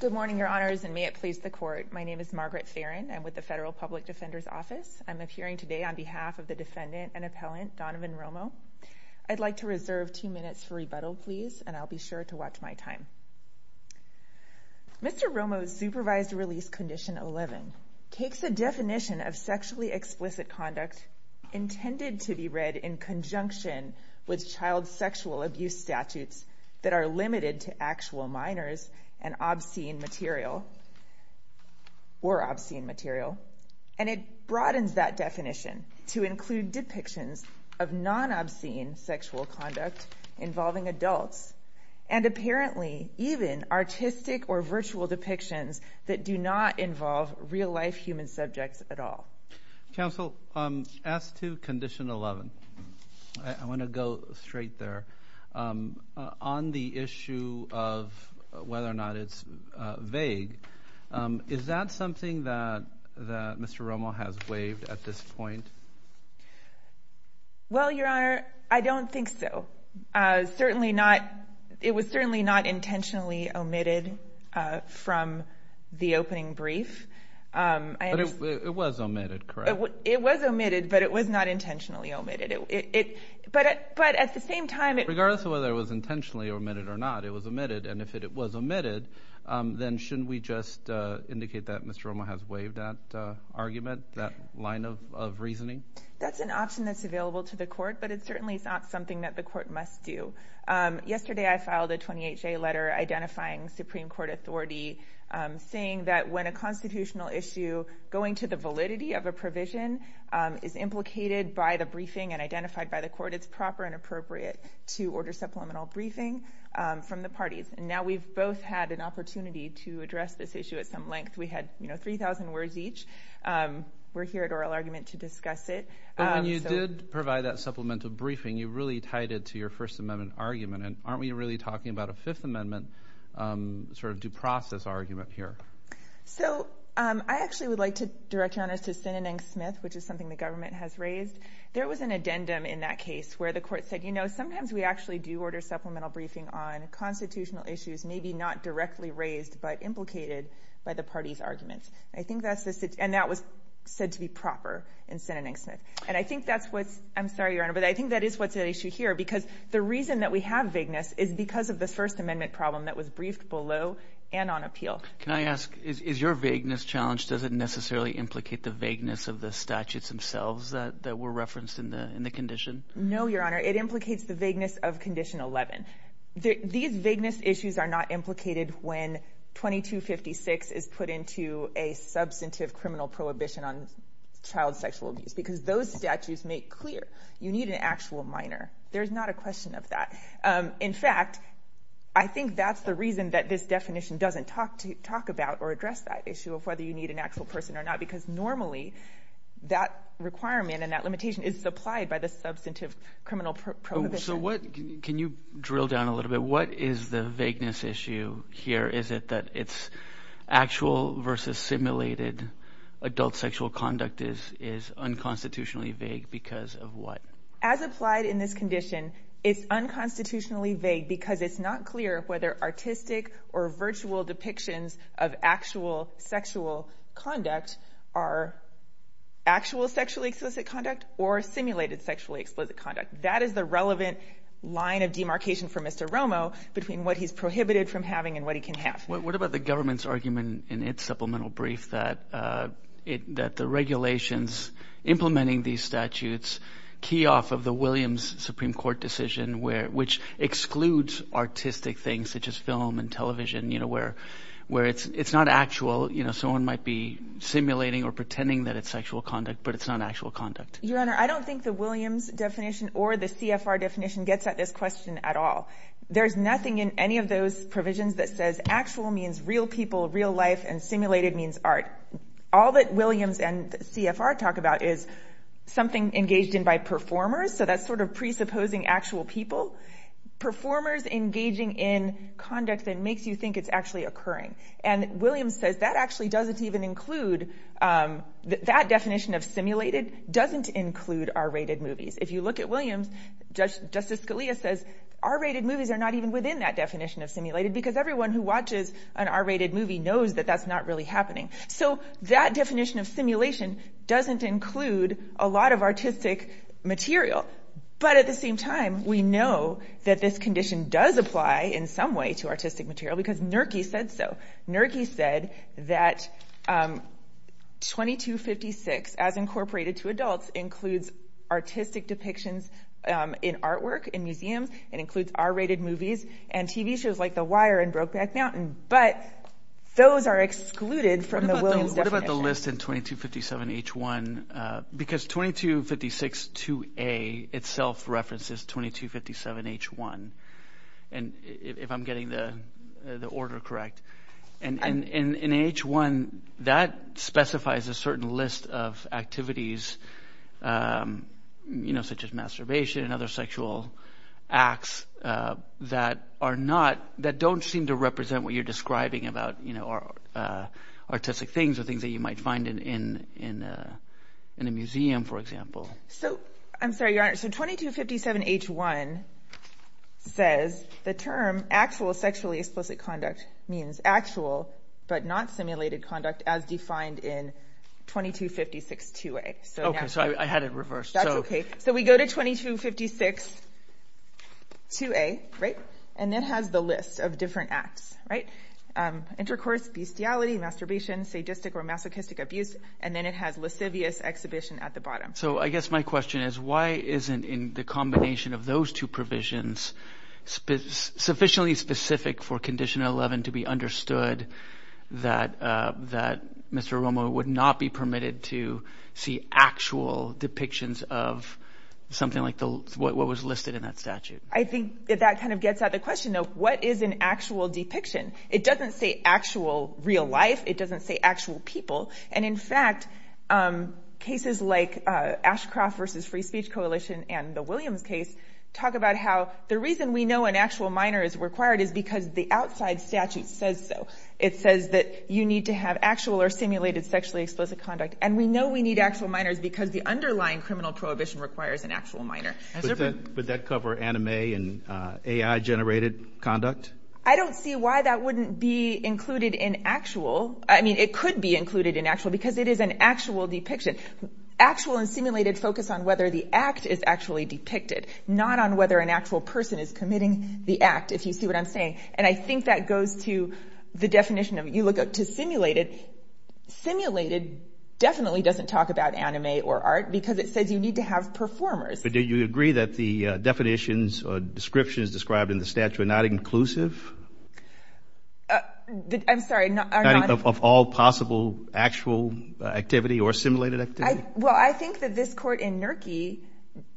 Good morning, your honors, and may it please the court. My name is Margaret Farron. I'm with the Federal Public Defender's Office. I'm appearing today on behalf of the defendant and appellant, Donovan Romo. I'd like to reserve two minutes for rebuttal, please, and I'll be sure to watch my time. Mr. Romo's supervised release condition 11 takes a definition of sexually explicit conduct intended to be read in conjunction with child sexual abuse statutes that are limited to actual minors and obscene material, or obscene material, and it broadens that definition to include depictions of non-obscene sexual conduct involving adults and apparently even artistic or virtual depictions that do not involve real-life human subjects at all. Counsel, as to condition 11, I want to go straight there. On the issue of whether or not it's vague, is that something that Mr. Romo has waived at this point? Well, your honor, I don't think so. It was certainly not intentionally omitted from the statute, correct? It was omitted, but it was not intentionally omitted. But at the same time, it... Regardless of whether it was intentionally omitted or not, it was omitted, and if it was omitted, then shouldn't we just indicate that Mr. Romo has waived that argument, that line of reasoning? That's an option that's available to the court, but it certainly is not something that the court must do. Yesterday, I filed a 28-J letter identifying Supreme Court authority saying that when a constitutional issue going to the validity of a provision is implicated by the briefing and identified by the court, it's proper and appropriate to order supplemental briefing from the parties. And now we've both had an opportunity to address this issue at some length. We had 3,000 words each. We're here at oral argument to discuss it. But when you did provide that supplemental briefing, you really tied it to your First Amendment argument, and aren't we really talking about a Fifth Amendment sort of due process argument here? So I actually would like to direct Your Honor to Sinanang-Smith, which is something the government has raised. There was an addendum in that case where the court said, you know, sometimes we actually do order supplemental briefing on constitutional issues, maybe not directly raised, but implicated by the party's arguments. I think that's the... And that was said to be proper in Sinanang-Smith. And I think that's what's... I'm sorry, Your Honor, but I think that is what's at issue here, because the reason that we have vagueness is because of the First Amendment problem that was briefed below and on appeal. Can I ask, is your vagueness challenged? Does it necessarily implicate the vagueness of the statutes themselves that were referenced in the condition? No, Your Honor. It implicates the vagueness of Condition 11. These vagueness issues are not implicated when 2256 is put into a substantive criminal prohibition on child sexual abuse, because those statutes make clear you need an actual minor. There's not a question of that. In fact, I think that's the reason that this definition doesn't talk about or address that issue of whether you need an actual person or not, because normally that requirement and that limitation is supplied by the substantive criminal prohibition. So what... Can you drill down a little bit? What is the vagueness issue here? Is it that it's actual versus simulated adult sexual conduct is unconstitutionally vague because of what? As applied in this condition, it's unconstitutionally vague because it's not clear whether artistic or virtual depictions of actual sexual conduct are actual sexually explicit conduct or simulated sexually explicit conduct. That is the relevant line of demarcation for Mr. Romo between what he's prohibited from having and what he can have. What about the government's argument in its supplemental brief that the regulations implementing these statutes key off of the Williams Supreme Court decision, which excludes artistic things such as film and television, where it's not actual. Someone might be simulating or pretending that it's sexual conduct, but it's not actual conduct. Your Honor, I don't think the Williams definition or the CFR definition gets at this question at all. There's nothing in any of those provisions that says actual means real people, real life, and simulated means art. All that Williams and CFR talk about is something engaged in by performers, so that's sort of presupposing actual people. Performers engaging in conduct that makes you think it's actually occurring. Williams says that definition of simulated doesn't include R-rated movies. If you look at Williams, Justice Scalia says R-rated movies are not even within that definition of simulated because everyone who watches an R-rated movie knows that that's not really happening. That definition of simulation doesn't include a lot of artistic material, but at the same time we know that this condition does apply in some way to artistic material because Nerkey said so. Nerkey said that 2256, as incorporated to adults, includes artistic depictions in artwork in museums. It includes R-rated movies and TV shows like The Wire and Brokeback Mountain, but those are excluded from the Williams definition. What about the list in 2257 H1? Because 2256 2A itself references 2257 H1, if I'm getting the order correct. In H1, that specifies a certain list of activities such as masturbation and other sexual acts that don't seem to represent what you're describing about artistic things or things that you might find in a museum, for example. I'm sorry, Your Honor. 2257 H1 says the term actual sexually explicit conduct means actual but not simulated conduct as defined in 2256 2A. Okay, so I had it reversed. That's okay. So we go to 2256 2A, and it has the list of different acts. Intercourse, bestiality, masturbation, sadistic or masochistic abuse, and then it has lascivious exhibition at the bottom. So I guess my question is why isn't in the combination of those two provisions sufficiently specific for Condition 11 to be understood that Mr. Romo would not be permitted to see actual depictions of something like what was listed in that statute? I think that that kind of gets at the question of what is an actual depiction? It doesn't say actual real life. It doesn't say actual people. And in fact, cases like Ashcroft v. Free Speech Coalition and the Williams case talk about how the reason we know an actual minor is required is because the outside statute says so. It says that you need to have actual or simulated sexually explicit conduct. And we know we need actual minors because the underlying criminal prohibition requires an actual minor. Would that cover anime and AI-generated conduct? I don't see why that wouldn't be included in actual. I mean, it could be included in actual because it is an actual depiction. Actual and simulated focus on whether the act is actually depicted, not on whether an actual person is committing the act, if you think that goes to the definition of, you look up to simulated. Simulated definitely doesn't talk about anime or art because it says you need to have performers. But do you agree that the definitions or descriptions described in the statute are not inclusive? I'm sorry, are not? Of all possible actual activity or simulated activity? Well, I think that this court in Nurkey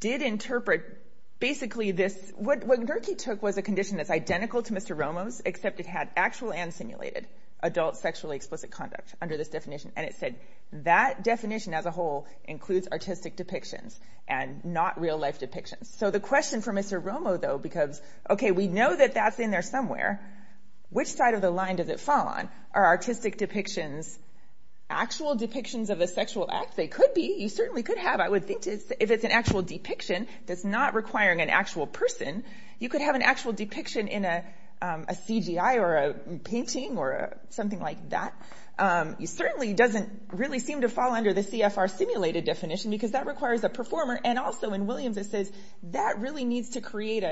did interpret basically this, what Nurkey took was a condition that's identical to Mr. Romo's, except it had actual and simulated adult sexually explicit conduct under this definition. And it said that definition as a whole includes artistic depictions and not real life depictions. So the question for Mr. Romo, though, because, okay, we know that that's in there somewhere. Which side of the line does it fall on? Are artistic depictions actual depictions of a sexual act? They could be. You certainly could have. I would think if it's an actual depiction that's not requiring an actual person, you could have an actual depiction in a CGI or a painting or something like that. It certainly doesn't really seem to fall under the CFR simulated definition because that requires a performer. And also in Williams it says that really needs to create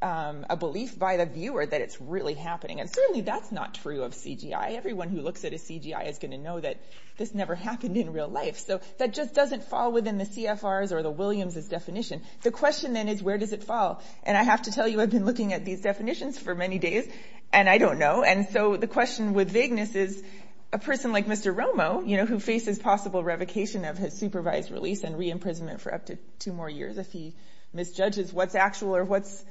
a belief by the viewer that it's really happening. And certainly that's not true of CGI. Everyone who looks at a CGI is going to know that this never happened in real life. So that just doesn't fall within the CFRs or the Williams' definition. The question then is where does it fall? And I have to tell you, I've been looking at these definitions for many days and I don't know. And so the question with vagueness is a person like Mr. Romo, you know, who faces possible revocation of his supervised release and re-imprisonment for up to two more years if he misjudges what's actual or what's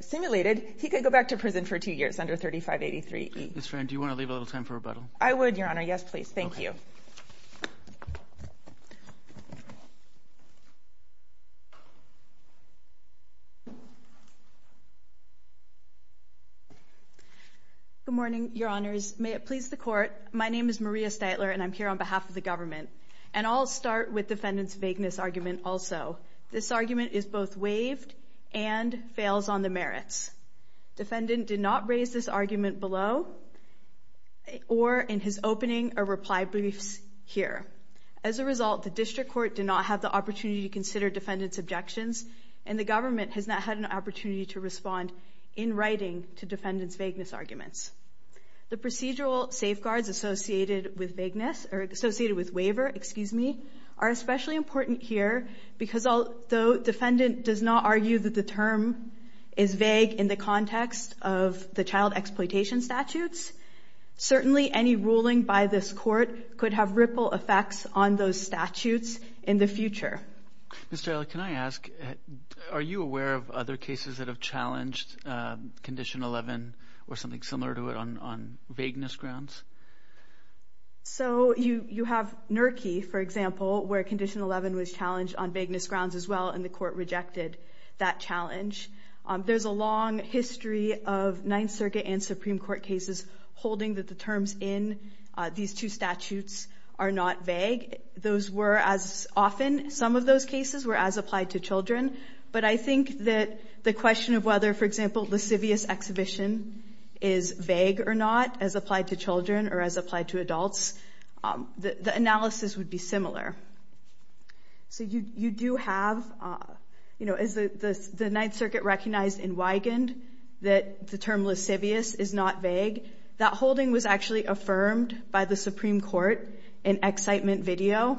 simulated, he could go back to prison for two years under 3583E. Ms. Friend, do you want to leave a little time for rebuttal? I would, Your Honor. Yes, please. Thank you. Good morning, Your Honors. May it please the Court, my name is Maria Steitler and I'm here on behalf of the government. And I'll start with defendant's vagueness argument also. This argument is both waived and fails on the merits. Defendant did not raise this argument below or in his opening or reply briefs here. As a result, the District Court did not have the opportunity to consider defendant's objections and the government has not had an opportunity to respond in writing to defendant's vagueness arguments. The procedural safeguards associated with vagueness or associated with waiver, excuse me, are especially important here because the defendant does not argue that the term is vague in the context of the child exploitation statutes. Certainly, any ruling by this Court could have ripple effects on those statutes in the future. Ms. Steitler, can I ask, are you aware of other cases that have challenged Condition 11 or something similar to it on vagueness grounds? So, you have NERCI, for example, where Condition 11 was challenged on vagueness grounds as well and the Court rejected that challenge. There's a long history of Ninth Circuit and Supreme Court cases holding that the terms in these two statutes are not vague. Those were as often, some of those cases were as applied to children. But I think that the applied to adults, the analysis would be similar. So, you do have, you know, the Ninth Circuit recognized in Wigand that the term lascivious is not vague. That holding was actually affirmed by the Supreme Court in excitement video.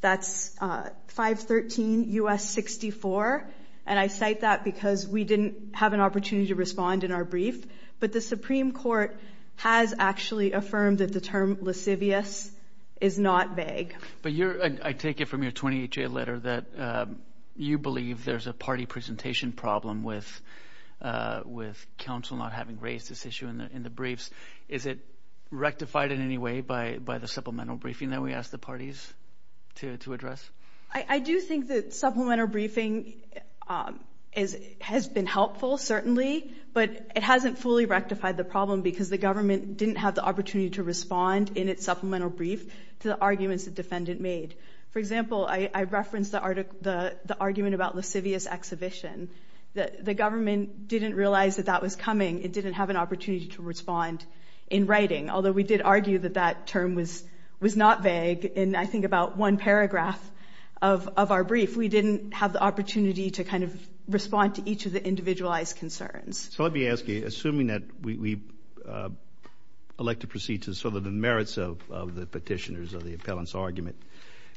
That's 513 U.S. 64 and I cite that because we didn't have an opportunity to respond in our brief. But the Supreme Court has actually affirmed that the term lascivious is not vague. But you're, I take it from your 28-day letter that you believe there's a party presentation problem with counsel not having raised this issue in the briefs. Is it rectified in any way by the supplemental briefing that we asked the parties to address? I do think that supplemental briefing has been helpful, certainly, but it hasn't fully given us an opportunity to respond in its supplemental brief to the arguments the defendant made. For example, I referenced the argument about lascivious exhibition. The government didn't realize that that was coming. It didn't have an opportunity to respond in writing, although we did argue that that term was not vague. And I think about one paragraph of our brief, we didn't have the opportunity to kind of respond to each of the individualized concerns. So let me ask you, assuming that we elect to proceed to sort of the merits of the petitioners of the appellant's argument,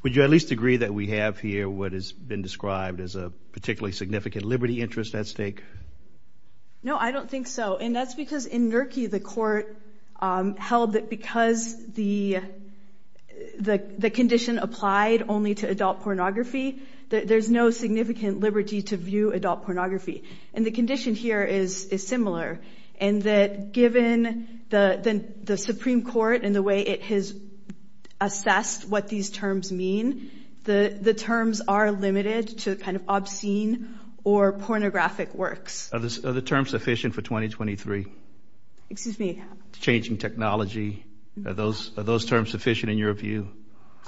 would you at least agree that we have here what has been described as a particularly significant liberty interest at stake? No, I don't think so. And that's because in NERCI the court held that because the condition applied only to adult pornography, that there's no significant liberty to view adult pornography. And the condition here is similar, in that given the Supreme Court and the way it has assessed what these terms mean, the terms are limited to kind of obscene or pornographic works. Are the terms sufficient for 2023? Excuse me? Changing technology. Are those terms sufficient in your view?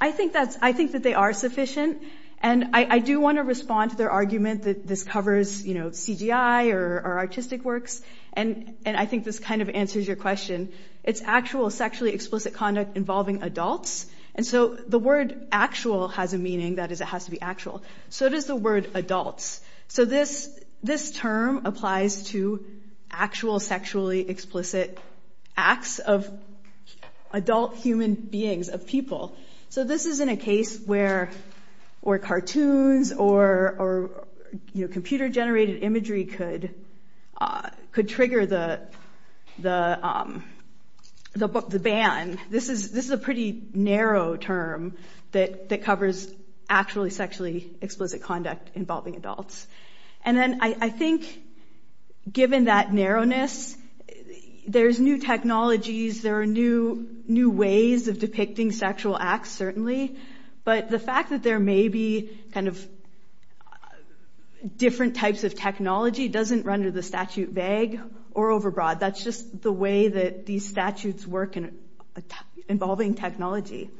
I think that they are sufficient. And I do want to respond to their argument that this is CGI or artistic works. And I think this kind of answers your question. It's actual sexually explicit conduct involving adults. And so the word actual has a meaning, that is it has to be actual. So does the word adults. So this term applies to actual sexually explicit acts of adult human beings, of people. So this isn't a case where cartoons or computer generated imagery could trigger the ban. This is a pretty narrow term that covers actually sexually explicit conduct involving adults. And then I think given that narrowness, there's new technologies, there are new ways of depicting sexual acts certainly. But the fact that there may be kind of different types of technology doesn't render the statute vague or overbroad. That's just the way that these statutes work involving technology.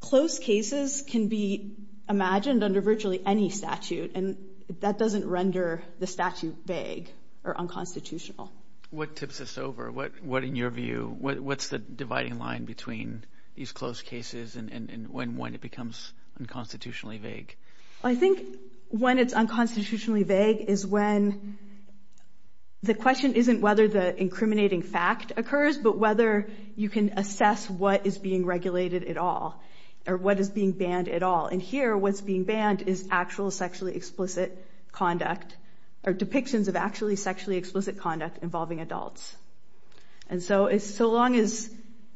Close cases can be imagined under virtually any statute. And that doesn't render the statute vague or unconstitutional. What tips this over? What in your view, what's the dividing line between these close cases and when it becomes unconstitutionally vague? I think when it's unconstitutionally vague is when the question isn't whether the incriminating fact occurs, but whether you can assess what is being regulated at all or what is being banned at all. And here what's being banned is actual sexually explicit conduct or depictions of actually sexually explicit conduct involving adults. And so it's so long as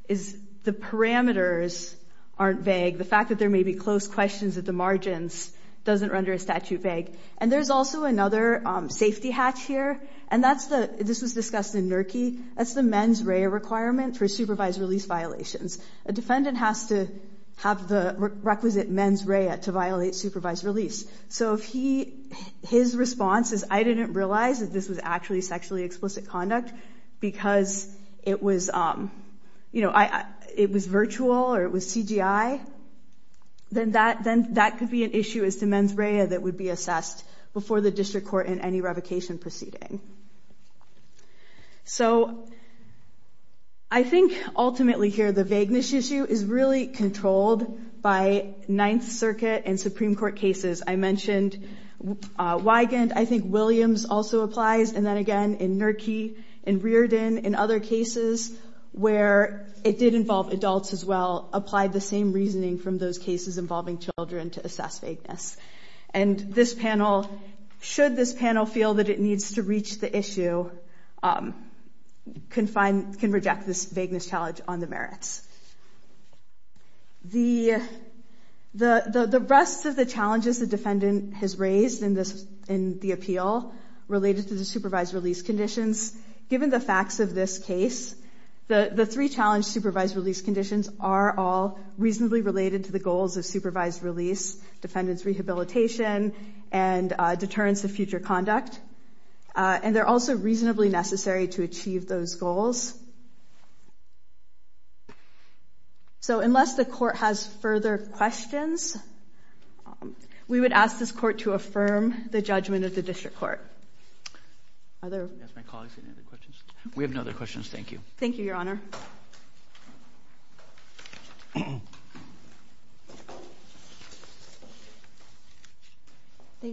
the parameters aren't vague, the fact that there may be close questions at the margins doesn't render a statute vague. And there's also another safety hatch here. And that's the, this was discussed in NERCI, that's the mens rea requirement for supervised release violations. A defendant has to have the requisite mens rea to violate supervised release. So if he, his response is, I didn't realize that this was actually sexually explicit conduct because it was, you know, it was virtual or it was CGI, then that could be an issue as to mens rea that would be assessed before the district court in any revocation proceeding. So I think ultimately here the vagueness issue is really controlled by Ninth Circuit and other cases. I mentioned Wigand, I think Williams also applies. And then again in NERCI, in Reardon, in other cases where it did involve adults as well, applied the same reasoning from those cases involving children to assess vagueness. And this panel, should this panel feel that it needs to reach the issue, can find, can reject this vagueness challenge on the merits. The rest of the challenges the defendant has raised in this, in the appeal related to the supervised release conditions, given the facts of this case, the three challenge supervised release conditions are all reasonably related to the goals of supervised release, defendant's rehabilitation and deterrence of future conduct. And they're also reasonably necessary to achieve those goals. So unless the court has further questions, we would ask this court to affirm the judgment of the district court. Are there? Yes, my colleagues, any other questions? We have no other questions, thank you. Thank you, Your Honor. Thank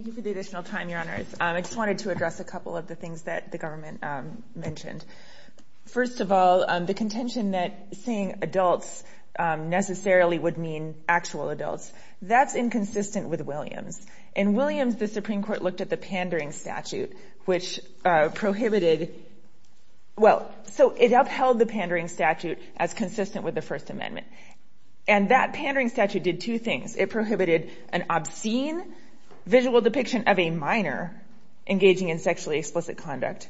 you for the additional time, Your Honor. I just wanted to address a couple of the things that the government mentioned. First of all, the contention that seeing adults necessarily would mean actual adults, that's inconsistent with Williams. In Williams, the Supreme Court looked at the pandering statute, which prohibited, well, so it upheld the pandering statute as consistent with the First Amendment. And that pandering statute did two things. It prohibited an obscene visual depiction of a minor engaging in sexually explicit conduct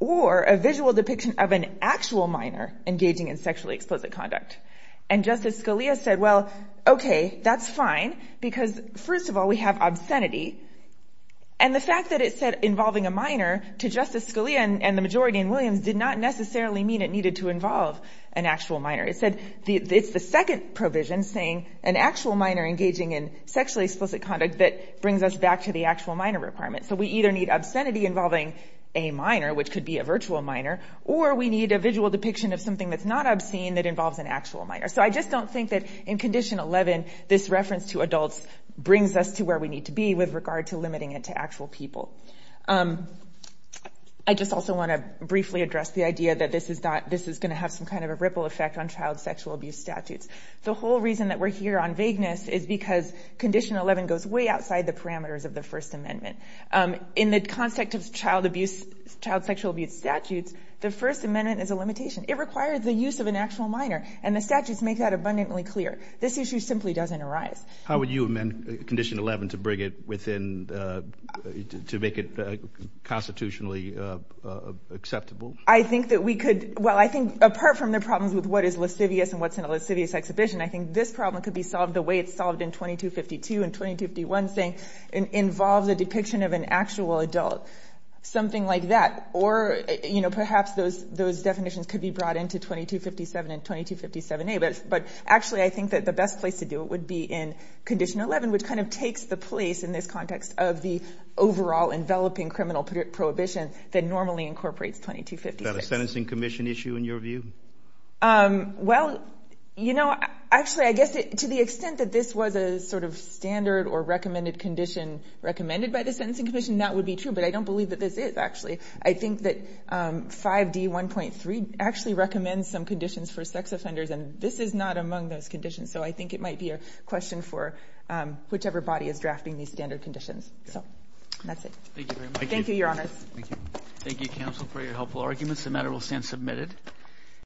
or a visual depiction of an actual minor engaging in sexually explicit conduct. And Justice Scalia said, well, okay, that's fine, because first of all, we have obscenity. And the fact that it said involving a minor to Justice Scalia and the majority in Williams did not necessarily mean it needed to involve an actual minor. It said it's the second provision saying an actual minor engaging in sexually explicit conduct that brings us back to the actual minor requirement. So we either need obscenity involving a minor, which could be a virtual minor, or we need a visual depiction of something that's not obscene that involves an actual minor. So I just don't think that in Condition 11, this reference to adults brings us to where we need to be with regard to limiting it to actual people. I just also want to briefly address the idea that this is going to have some kind of a ripple effect on child sexual abuse statutes. The whole reason that we're here on vagueness is because Condition 11 goes way outside the parameters of the First Amendment. In the context of child abuse, child sexual abuse statutes, the First Amendment is a limitation. It requires the use of an actual minor, and the statutes make that abundantly clear. This issue simply doesn't arise. How would you amend Condition 11 to bring it within, to make it constitutionally acceptable? I think that we could, well, I think apart from the problems with what is lascivious and what's in a lascivious exhibition, I think this problem could be solved the way it's solved in 2252 and 2251, saying, involve the depiction of an actual adult, something like that. Or perhaps those definitions could be brought into 2257 and 2257A, but actually I think that the best place to do it would be in Condition 11, which kind of takes the place in this context of the overall enveloping criminal prohibition that normally incorporates 2256. Is that a sentencing commission issue in your view? Well, you know, actually I guess to the extent that this was a sort of standard or recommended condition recommended by the sentencing commission, that would be true, but I don't believe that this is actually. I think that 5D1.3 actually recommends some conditions for sex offenders, and this is not among those conditions. So I think it might be a question for whichever body is drafting these standard conditions. So that's it. Thank you very much. Thank you, Your Honors. Thank you. Thank you, Counsel, for your helpful arguments. The matter will stand submitted.